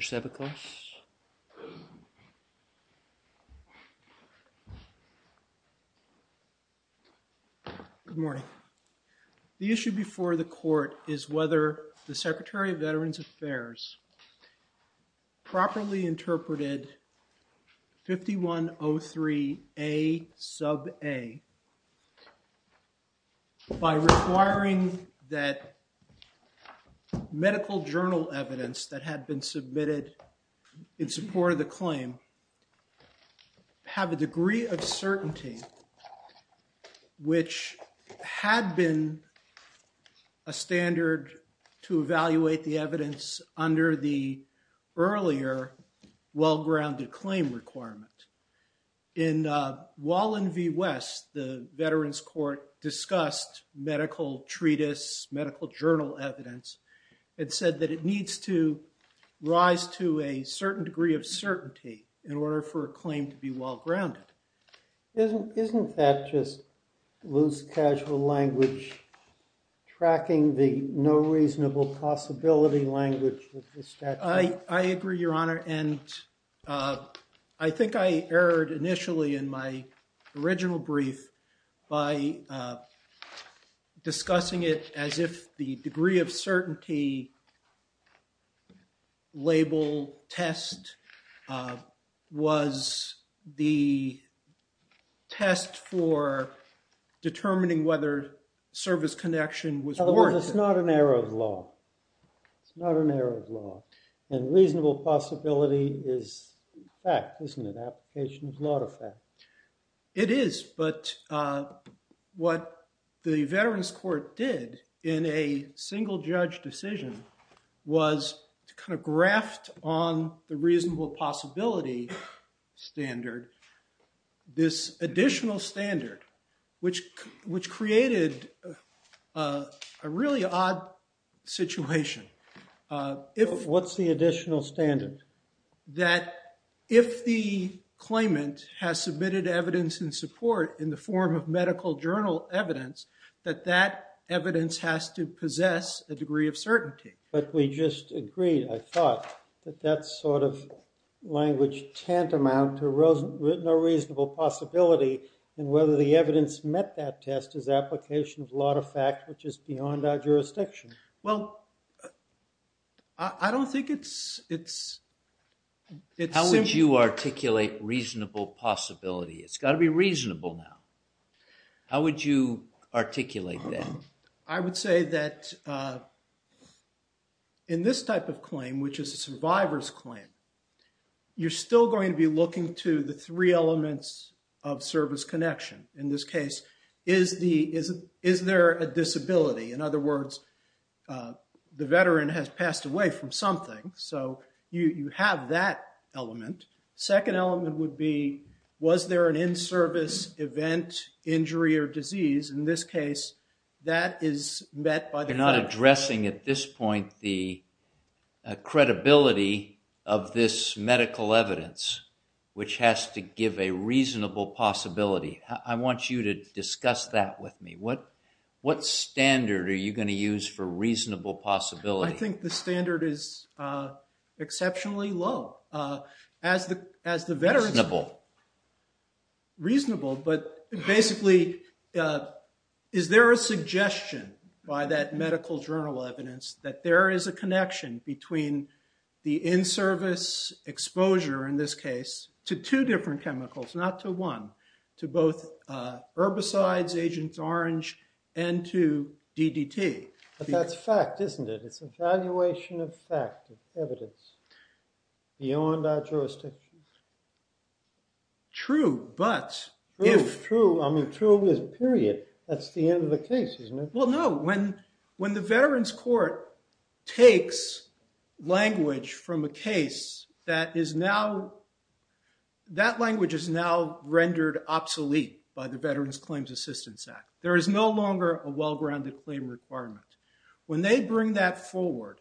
Mr. Sebeklos Good morning. The issue before the court is whether the Secretary of Veterans Affairs properly interpreted 5103A sub A by requiring that medical journal evidence that had been submitted in support of the claim have a degree of certainty which had been a standard to evaluate the evidence under the earlier well-grounded claim requirement. In Wallen v. West, the Veterans Court discussed medical treatise, medical journal evidence and said that it needs to rise to a certain degree of certainty in order for a claim to be well-grounded. Isn't that just loose, casual language, tracking the no reasonable possibility language? I agree, Your Honor, and I think I erred initially in my original brief by discussing it as if the degree of certainty label test was the test for determining whether service connection was warranted. In other words, it's not an error of law, it's not an error of law, and reasonable possibility is fact, isn't it, application of law to fact. It is, but what the Veterans Court did in a single judge decision was to kind of graft on the reasonable possibility standard, this additional standard, which created a really odd situation. What's the additional standard? That if the claimant has submitted evidence in support in the form of medical journal evidence, that that evidence has to possess a degree of certainty. But we just agreed, I thought, that that sort of language tantamount to no reasonable possibility and whether the evidence met that test is application of law to fact, which is beyond our jurisdiction. Well, I don't think it's... How would you articulate reasonable possibility? It's got to be reasonable now. How would you articulate that? I would say that in this type of claim, which is a survivor's claim, you're still going to be looking to the three elements of service connection. In this case, is there a disability? In other words, the veteran has passed away from something, so you have that element. Second element would be, was there an in-service event, injury, or disease? In this case, that is met by the fact... You're not addressing at this point the credibility of this medical evidence, which has to give a reasonable possibility. I want you to discuss that with me. What standard are you going to use for reasonable possibility? I think the standard is exceptionally low. As the veterans... Reasonable. Reasonable, but basically, is there a suggestion by that medical journal evidence that there is a connection between the in-service exposure, in this case, to two different chemicals, not to one, to both herbicides, Agent Orange, and to DDT? That's fact, isn't it? It's evaluation of fact, of evidence, beyond our jurisdiction. True, but if... True. I mean, true is period. That's the end of the case, isn't it? Well, no. When the Veterans Court takes language from a case that is now... That language is now rendered obsolete by the Veterans Claims Assistance Act. There is no longer a well-grounded claim requirement. When they bring that forward,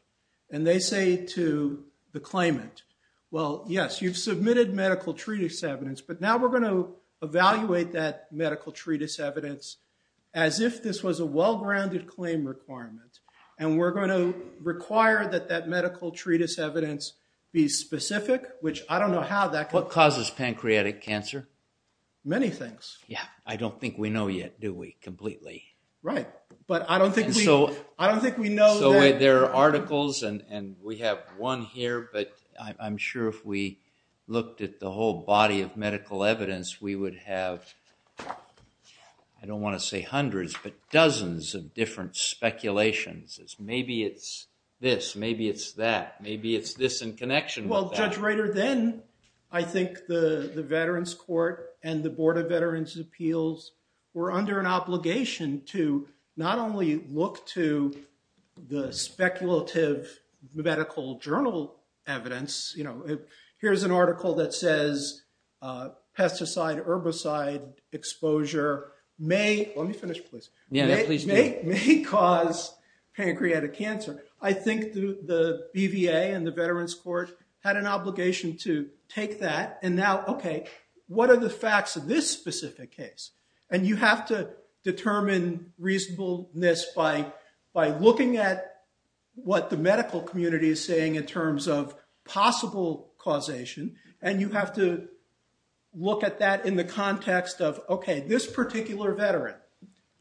and they say to the claimant, well, yes, you've submitted medical treatise evidence, but now we're going to evaluate that medical treatise evidence as if this was a well-grounded claim requirement, and we're going to require that that medical treatise evidence be specific, which I don't know how that could... What causes pancreatic cancer? Many things. Yeah. I don't think we know yet, do we, completely? Right. But I don't think we know that... So, there are articles, and we have one here, but I'm sure if we looked at the whole body of medical evidence, we would have, I don't want to say hundreds, but dozens of different speculations as maybe it's this, maybe it's that, maybe it's this in connection with that. Well, Judge Reiter, then, I think the Veterans Court and the Board of Veterans' Appeals were under an obligation to not only look to the speculative medical journal evidence. Here's an article that says pesticide, herbicide exposure may... Let me finish, please. Yeah, please do. May cause pancreatic cancer. I think the BVA and the Veterans Court had an obligation to take that, and now, okay, what are the facts of this specific case? And you have to determine reasonableness by looking at what the medical community is saying in terms of possible causation, and you have to look at that in the context of, okay, this particular veteran,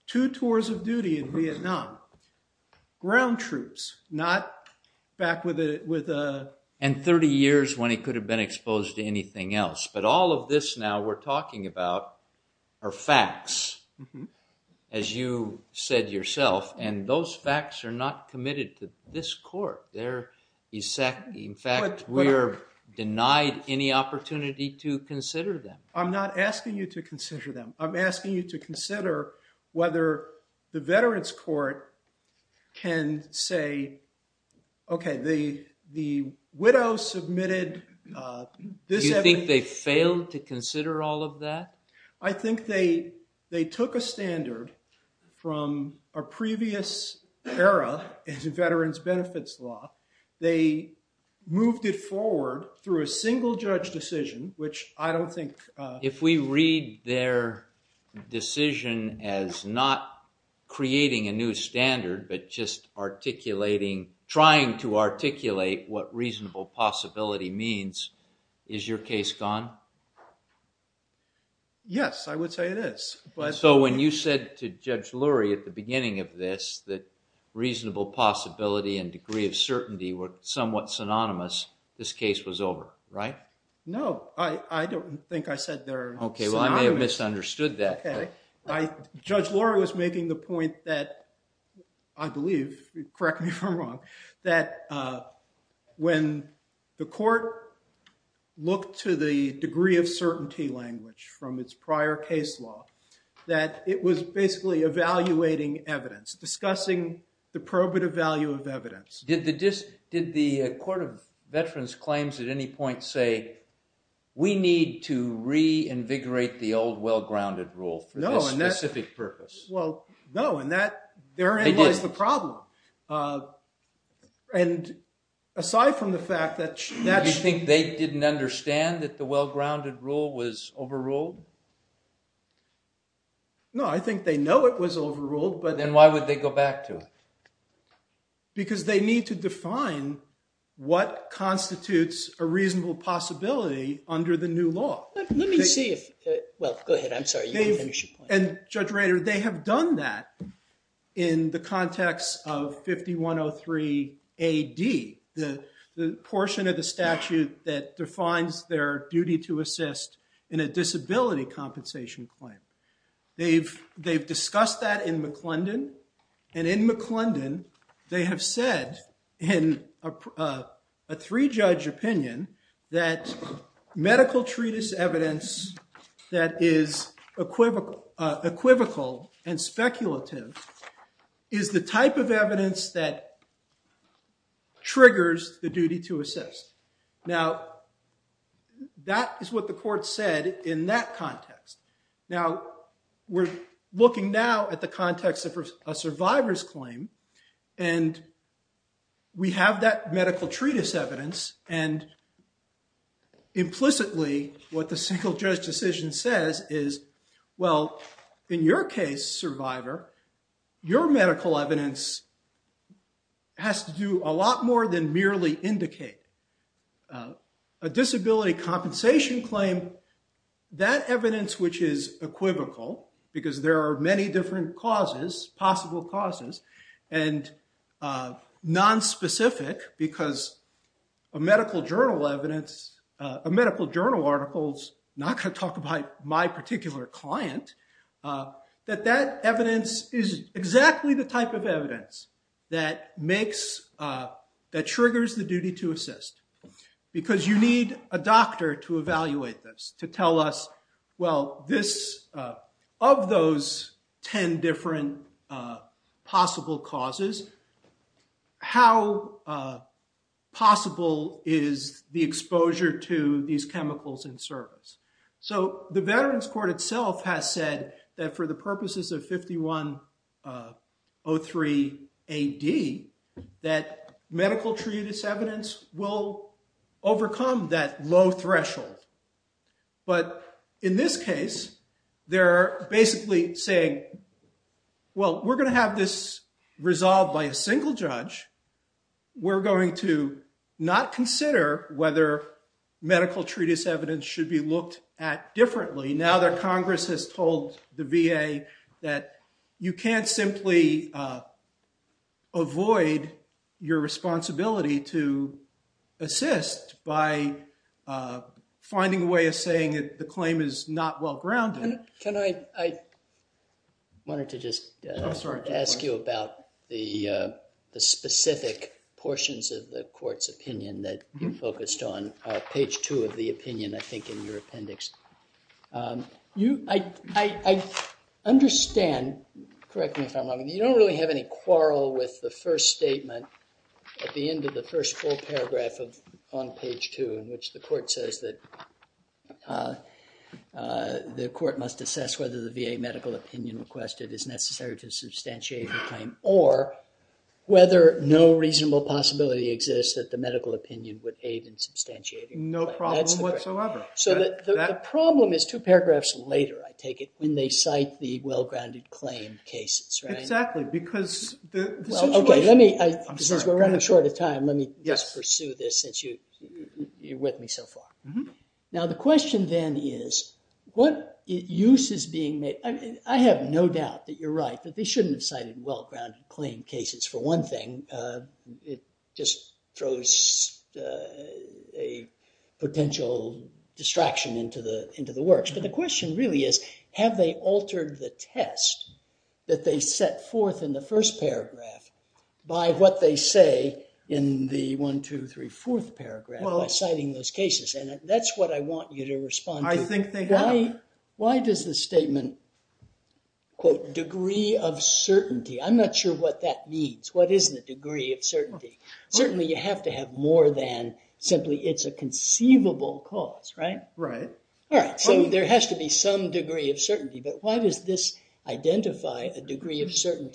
two tours of duty in Vietnam, ground troops, not back with a... And 30 years when he could have been exposed to anything else, but all of this now we're talking about are facts, as you said yourself, and those facts are not committed to this court. They're... In fact, we are denied any opportunity to consider them. I'm not asking you to consider them. I'm asking you to consider whether the Veterans Court can say, okay, the widow submitted this... Do you think they failed to consider all of that? I think they took a standard from a previous era in veterans' benefits law. They moved it forward through a single judge decision, which I don't think... If we read their decision as not creating a new standard, but just articulating, trying to articulate what reasonable possibility means, is your case gone? Yes, I would say it is, but... So when you said to Judge Lurie at the beginning of this that reasonable possibility and degree of certainty were somewhat synonymous, this case was over, right? No, I don't think I said they're synonymous. Okay, well, I may have misunderstood that. Judge Lurie was making the point that, I believe, correct me if I'm wrong, that when the court looked to the degree of certainty language from its prior case law, that it was basically evaluating evidence, discussing the probative value of evidence. Did the court of veterans' claims at any point say, we need to reinvigorate the old well-grounded rule for this specific purpose? Well, no, and that therein lies the problem. And aside from the fact that... Do you think they didn't understand that the well-grounded rule was overruled? No, I think they know it was overruled, but... Then why would they go back to it? Because they need to define what constitutes a reasonable possibility under the new law. Let me see if... Well, go ahead. I'm sorry, you can finish your point. Judge Rader, they have done that in the context of 5103 AD, the portion of the statute that defines their duty to assist in a disability compensation claim. They've discussed that in McClendon, and in McClendon, they have said in a three-judge opinion that medical treatise evidence that is equivocal and speculative is the type of evidence that triggers the duty to assist. Now, that is what the court said in that context. Now, we're looking now at the context of a survivor's claim, and we have that medical treatise evidence, and implicitly, what the single-judge decision says is, well, in your case, survivor, your medical evidence has to do a lot more than merely indicate. A disability compensation claim, that evidence which is equivocal, because there are many different causes, possible causes, and nonspecific, because a medical journal article is not going to talk about my particular client, that that evidence is exactly the type of evidence that triggers the duty to assist, because you need a doctor to evaluate this, to tell us, well, this, of those 10 different possible causes, how possible is the exposure to these chemicals in service? So the Veterans Court itself has said that for the purposes of 5103AD, that medical treatise evidence will overcome that low threshold. But in this case, they're basically saying, well, we're going to have this resolved by a single judge. We're going to not consider whether medical treatise evidence should be looked at differently. Now that Congress has told the VA that you can't simply avoid your responsibility to assist by finding a way of saying that the claim is not well-grounded. Can I, I wanted to just ask you about the specific portions of the Court's opinion that you focused on, page 2 of the opinion, I think, in your appendix. I understand, correct me if I'm wrong, you don't really have any quarrel with the first statement at the end of the first full paragraph of, on page 2, in which the Court says that the Court must assess whether the VA medical opinion requested is necessary to substantiate the claim, or whether no reasonable possibility exists that the medical opinion would aid in substantiating the claim. No problem whatsoever. So the problem is two paragraphs later, I take it, when they cite the well-grounded claim cases, right? Exactly, because the situation. Since we're running short of time, let me just pursue this since you're with me so far. Now the question then is, what use is being made, I have no doubt that you're right, that they shouldn't have cited well-grounded claim cases for one thing, it just throws a potential distraction into the works. But the question really is, have they altered the test that they set forth in the first paragraph by what they say in the 1, 2, 3, 4th paragraph by citing those cases? And that's what I want you to respond to. I think they have. Why does the statement, quote, degree of certainty, I'm not sure what that means. What is the degree of certainty? Certainly you have to have more than simply it's a conceivable cause, right? Right. All right, so there has to be some degree of certainty, but why does this identify a demand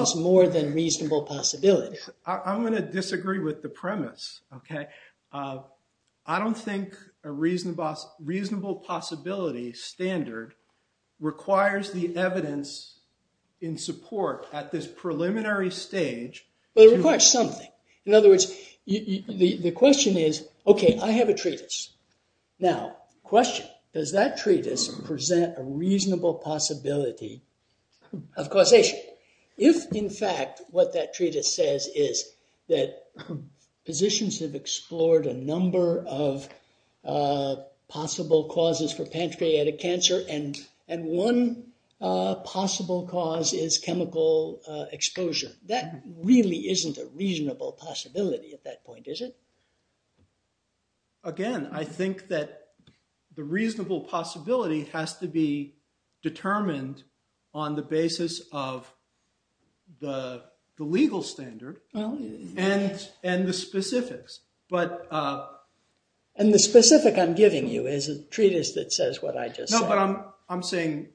that's more than reasonable possibility? I'm going to disagree with the premise, okay? I don't think a reasonable possibility standard requires the evidence in support at this preliminary stage. But it requires something. In other words, the question is, okay, I have a treatise. Now, question, does that treatise present a reasonable possibility of causation? If, in fact, what that treatise says is that physicians have explored a number of possible causes for pancreatic cancer and one possible cause is chemical exposure, that really isn't a reasonable possibility at that point, is it? Again, I think that the reasonable possibility has to be determined on the basis of the legal standard and the specifics. And the specific I'm giving you is a treatise that says what I just said. No, but I'm saying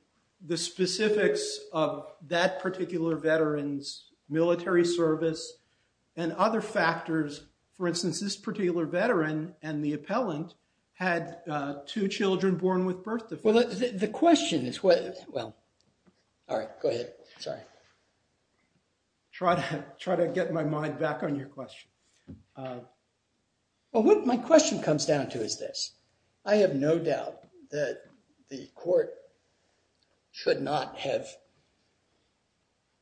the specifics of that particular veteran's military service and other factors. For instance, this particular veteran and the appellant had two children born with birth defects. Well, the question is, well, all right, go ahead. Sorry. Try to get my mind back on your question. Well, what my question comes down to is this. I have no doubt that the court should not have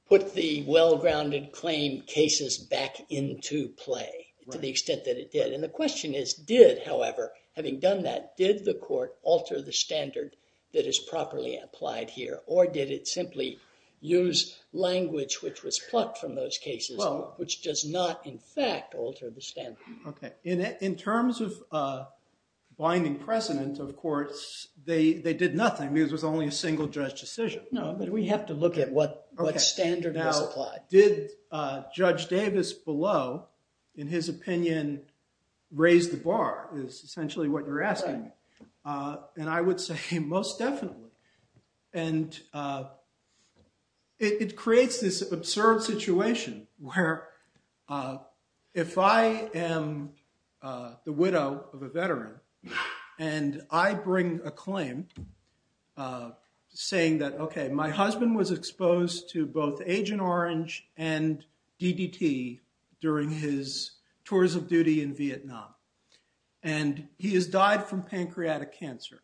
put the well-grounded claim cases back into play to the extent that it did. And the question is, did, however, having done that, did the court alter the standard that is properly applied here? Or did it simply use language which was plucked from those cases, which does not, in fact, alter the standard? OK. In terms of binding precedent, of course, they did nothing because it was only a single judge decision. No, but we have to look at what standard was applied. Did Judge Davis below, in his opinion, raise the bar is essentially what you're asking. And I would say most definitely. And it creates this absurd situation where if I am the widow of a veteran and I bring a claim saying that, OK, my husband was exposed to both Agent Orange and DDT during his tours of duty in Vietnam. And he has died from pancreatic cancer.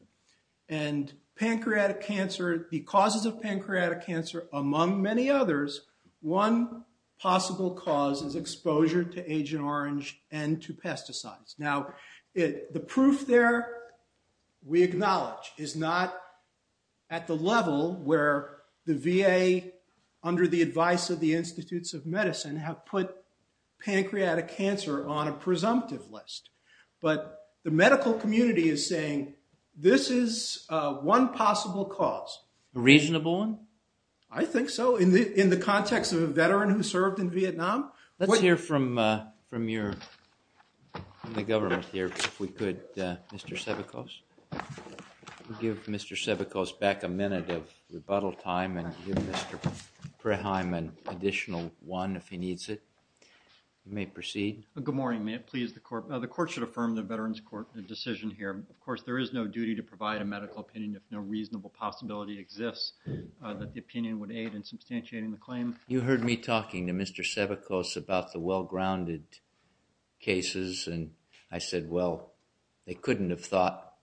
And the causes of pancreatic cancer, among many others, one possible cause is exposure to Agent Orange and to pesticides. Now, the proof there, we acknowledge, is not at the level where the VA, under the advice of the Institutes of Medicine, have put pancreatic cancer on a presumptive list. But the medical community is saying this is one possible cause. A reasonable one? I think so, in the context of a veteran who served in Vietnam. Let's hear from the government here, if we could. Mr. Sevikos? Give Mr. Sevikos back a minute of rebuttal time and give Mr. Preheim an additional one if he needs it. You may proceed. Good morning. May it please the court. The court should affirm the Veterans Court decision here. Of course, there is no duty to provide a medical opinion if no reasonable possibility exists that the opinion would aid in substantiating the claim. You heard me talking to Mr. Sevikos about the well-grounded cases. And I said, well, they couldn't have thought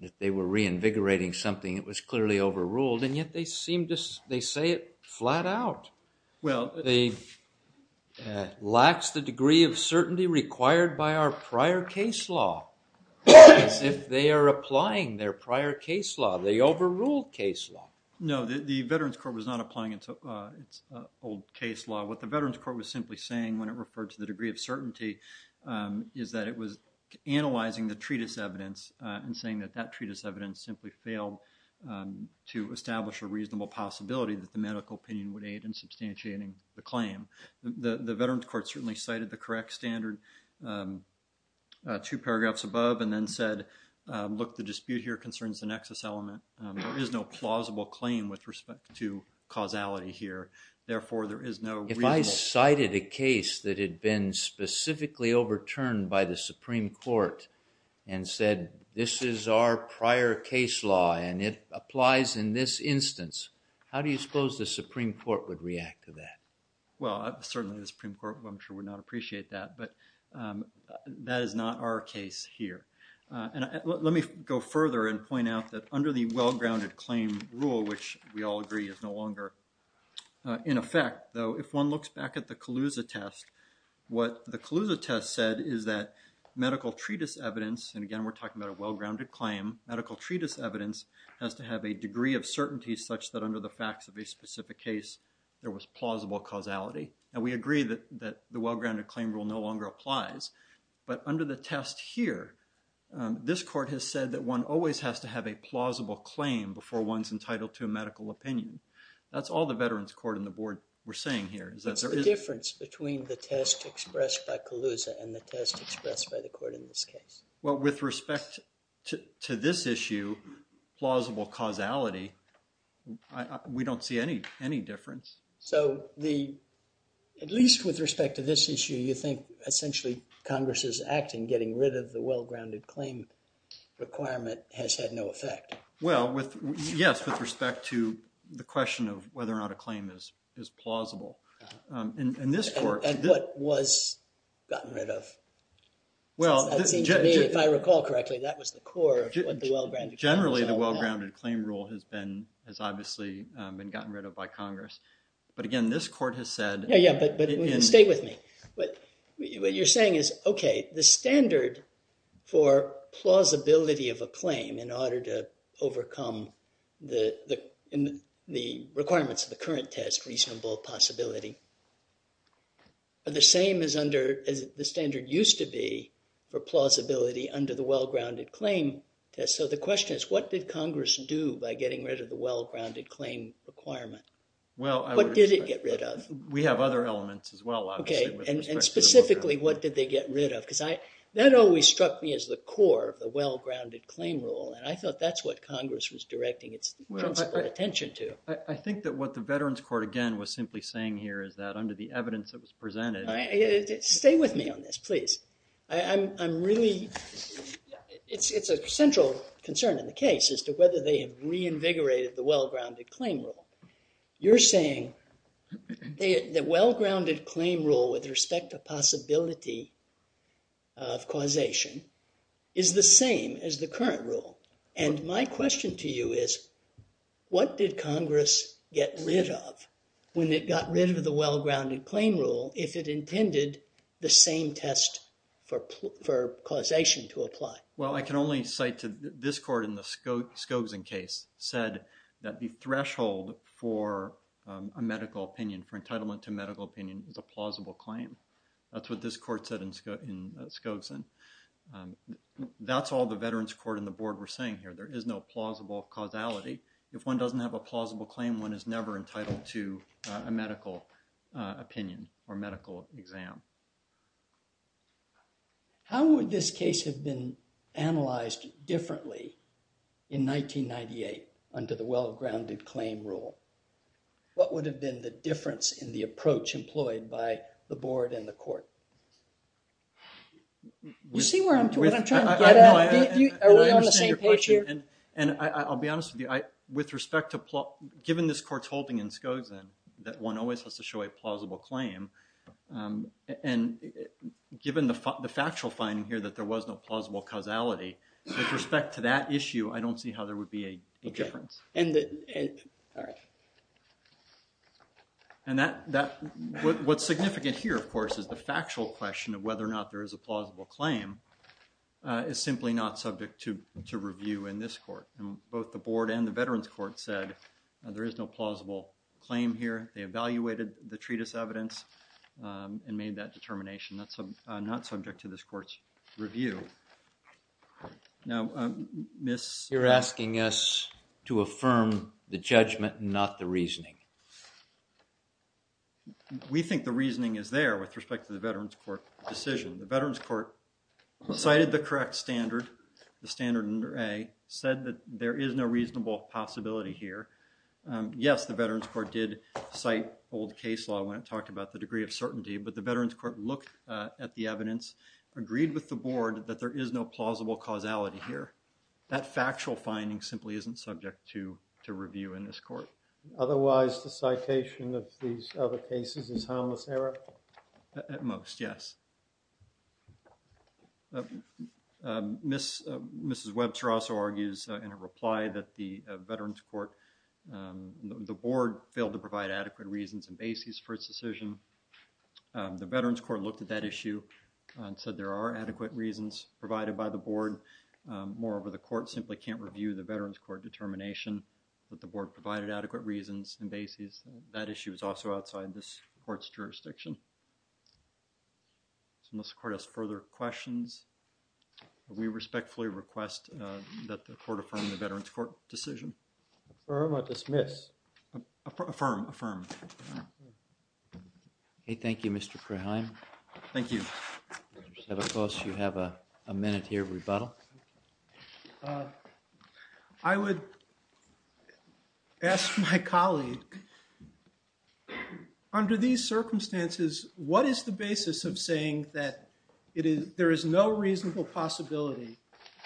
that they were reinvigorating something that was clearly overruled. And yet they seem to, they say it flat out. Well. They lax the degree of certainty required by our prior case law, as if they are applying their prior case law. They overruled case law. No, the Veterans Court was not applying its old case law. What the Veterans Court was simply saying when it referred to the degree of certainty is that it was analyzing the treatise evidence and saying that that treatise evidence simply failed to establish a reasonable possibility that the medical opinion would aid in substantiating the claim. The Veterans Court certainly cited the correct standard two paragraphs above and then said, look, the dispute here concerns the nexus element. There is no plausible claim with respect to causality here. Therefore, there is no reasonable. If I cited a case that had been specifically overturned by the Supreme Court and said, this is our prior case law and it applies in this instance, how do you suppose the Supreme Court would react to that? Well, certainly the Supreme Court, I'm sure, would not appreciate that. But that is not our case here. Let me go further and point out that under the well-grounded claim rule, which we all agree is no longer in effect, though, if one looks back at the Calusa test, what the Calusa test said is that medical treatise evidence, and again, we're talking about a well-grounded claim, medical treatise evidence has to have a degree of certainty such that under the facts of a specific case, there was plausible causality. And we agree that the well-grounded claim rule no longer applies. But under the test here, this court has said that one always has to have a plausible claim before one's entitled to a medical opinion. That's all the Veterans Court and the board were saying here. Is that there is a difference between the test expressed by Calusa and the test expressed by the court in this case? Well, with respect to this issue, plausible causality, we don't see any difference. So at least with respect to this issue, you think essentially Congress's act in getting rid of the well-grounded claim requirement has had no effect? Well, yes, with respect to the question of whether or not a claim is plausible. In this court- And what was gotten rid of? Well- It seems to me, if I recall correctly, that was the core of what the well-grounded claim rule was all about. Generally, the well-grounded claim rule has obviously been gotten rid of by Congress. But again, this court has said- Yeah, yeah, but stay with me. But what you're saying is, OK, the standard for plausibility of a claim in order to overcome the requirements of the current test, reasonable possibility, are the same as the standard used to be for plausibility under the well-grounded claim test. So the question is, what did Congress do by getting rid of the well-grounded claim requirement? Well, I would expect- What did it get rid of? We have other elements as well, obviously- OK, and specifically, what did they get rid of? Because that always struck me as the core of the well-grounded claim rule, and I thought that's what Congress was directing its principal attention to. I think that what the Veterans Court, again, was simply saying here is that under the evidence that was presented- Stay with me on this, please. I'm really- It's a central concern in the case as to whether they have reinvigorated the well-grounded claim rule. You're saying the well-grounded claim rule with respect to possibility of causation is the same as the current rule, and my question to you is, what did Congress get rid of when it got rid of the well-grounded claim rule if it intended the same test for causation to apply? Well, I can only cite to- This court in the Scogsin case said that the threshold for a medical opinion, for entitlement to medical opinion is a plausible claim. That's what this court said in Scogsin. That's all the Veterans Court and the board were saying here. There is no plausible causality. If one doesn't have a plausible claim, one is never entitled to a medical opinion or medical exam. How would this case have been analyzed differently in 1998 under the well-grounded claim rule? What would have been the difference in the approach employed by the board and the court? You see where I'm going? What I'm trying to get at, are we on the same page here? And I'll be honest with you, with respect to plot, given this court's holding in Scogsin that one always has to show a plausible claim, and given the factual finding here that there was no plausible causality, with respect to that issue, I don't see how there would be a difference. And what's significant here, of course, is the factual question of whether or not there is a plausible claim is simply not subject to review in this court. Both the board and the Veterans Court said there is no plausible claim here. They evaluated the treatise evidence. And made that determination. That's not subject to this court's review. Now, Miss? You're asking us to affirm the judgment, not the reasoning. We think the reasoning is there with respect to the Veterans Court decision. The Veterans Court cited the correct standard, the standard under A, said that there is no reasonable possibility here. Yes, the Veterans Court did cite old case law and talked about the degree of certainty, but the Veterans Court looked at the evidence, agreed with the board that there is no plausible causality here. That factual finding simply isn't subject to review in this court. Otherwise, the citation of these other cases is harmless error? At most, yes. Mrs. Webster also argues in a reply that the Veterans Court, the board failed to provide adequate reasons and basis for its decision. The Veterans Court looked at that issue and said there are adequate reasons provided by the board. Moreover, the court simply can't review the Veterans Court determination that the board provided adequate reasons and basis. That issue is also outside this court's jurisdiction. So unless the court has further questions, we respectfully request that the court affirm the Veterans Court decision. Affirm or dismiss? Affirm, affirm. Okay, thank you, Mr. Kraheim. Thank you. Senator Kloos, you have a minute here, rebuttal. I would ask my colleague, under these circumstances, what is the basis of saying that there is no reasonable possibility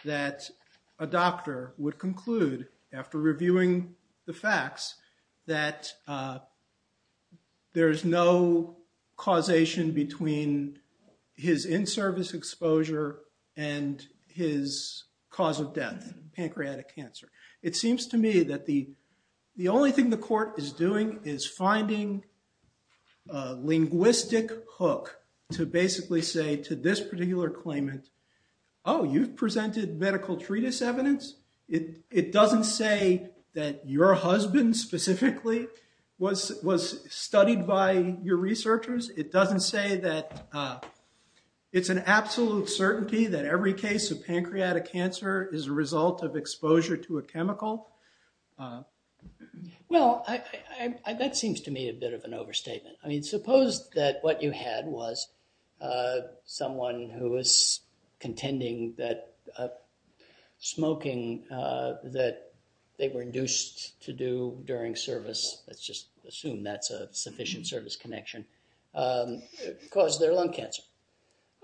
that a doctor would conclude, after reviewing the facts, that there is no causation between his in-service exposure and his cause of death, pancreatic cancer? It seems to me that the only thing the court is doing is finding a linguistic hook to basically say to this particular claimant, oh, you've presented medical treatise evidence. It doesn't say that your husband specifically was studied by your researchers. It doesn't say that it's an absolute certainty that every case of pancreatic cancer is a result of exposure to a chemical. Well, that seems to me a bit of an overstatement. Suppose that what you had was someone who was contending that smoking that they were induced to do during service, let's just assume that's a sufficient service connection, caused their lung cancer.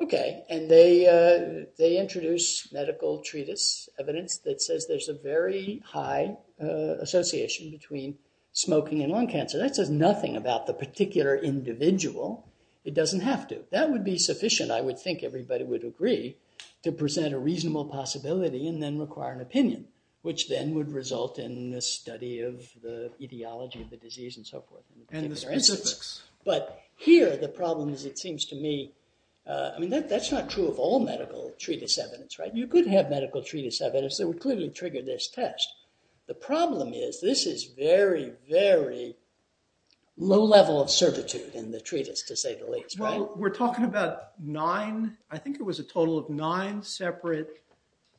And they introduce medical treatise evidence that says there's a very high association between smoking and lung cancer. That says nothing about the particular individual. It doesn't have to. That would be sufficient, I would think everybody would agree, to present a reasonable possibility and then require an opinion, which then would result in the study of the ideology of the disease and so forth. But here, the problem is, it seems to me, I mean, that's not true of all medical treatise evidence, right? You could have medical treatise evidence that would clearly trigger this test. The problem is, this is very, very low level of servitude in the treatise, to say the least. Well, we're talking about nine, I think it was a total of nine separate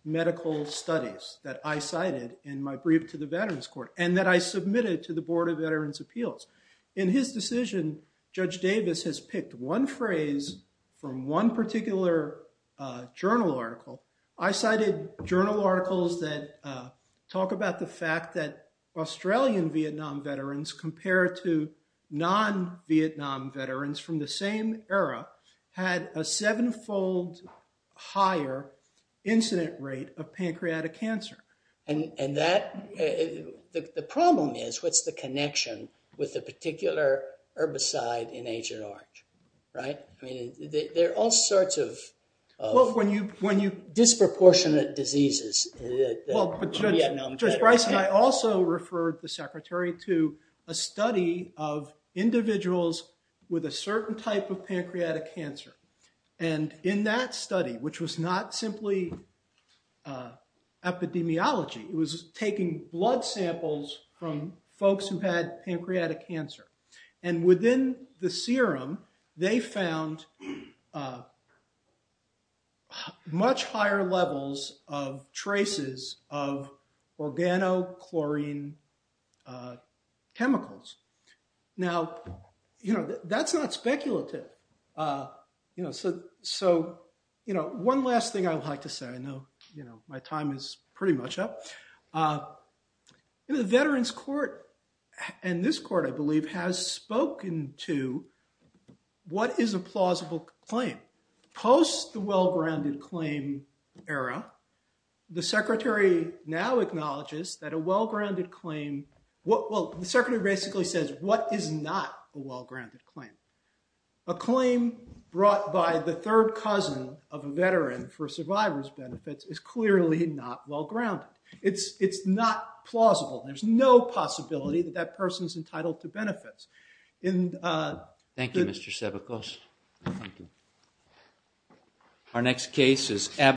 medical studies that I cited in my brief to the Veterans Court, and that I submitted to the Board of Veterans Appeals. In his decision, Judge Davis has picked one phrase from one particular journal article. I cited journal articles that talk about the fact that Australian Vietnam veterans, compared to non-Vietnam veterans from the same era, had a seven-fold higher incident rate of pancreatic cancer. And that, the problem is, what's the connection with the particular herbicide in Agent Orange, right? I mean, there are all sorts of... When you... Disproportionate diseases. Well, Judge Bryson, I also referred the Secretary to a study of individuals with a certain type of pancreatic cancer. And in that study, which was not simply epidemiology, it was taking blood samples from folks who had pancreatic cancer. And within the serum, they found much higher levels of traces of organochlorine chemicals. Now, that's not speculative. So, one last thing I'd like to say, I know my time is pretty much up. You know, the Veterans Court, and this court, I believe, has spoken to what is a plausible claim. Post the well-grounded claim era, the Secretary now acknowledges that a well-grounded claim... Well, the Secretary basically says, what is not a well-grounded claim? A claim brought by the third cousin of a veteran for survivor's benefits is clearly not well-grounded. It's not plausible. There's no possibility that that person is entitled to benefits. Thank you, Mr. Sebekos. Our next case is...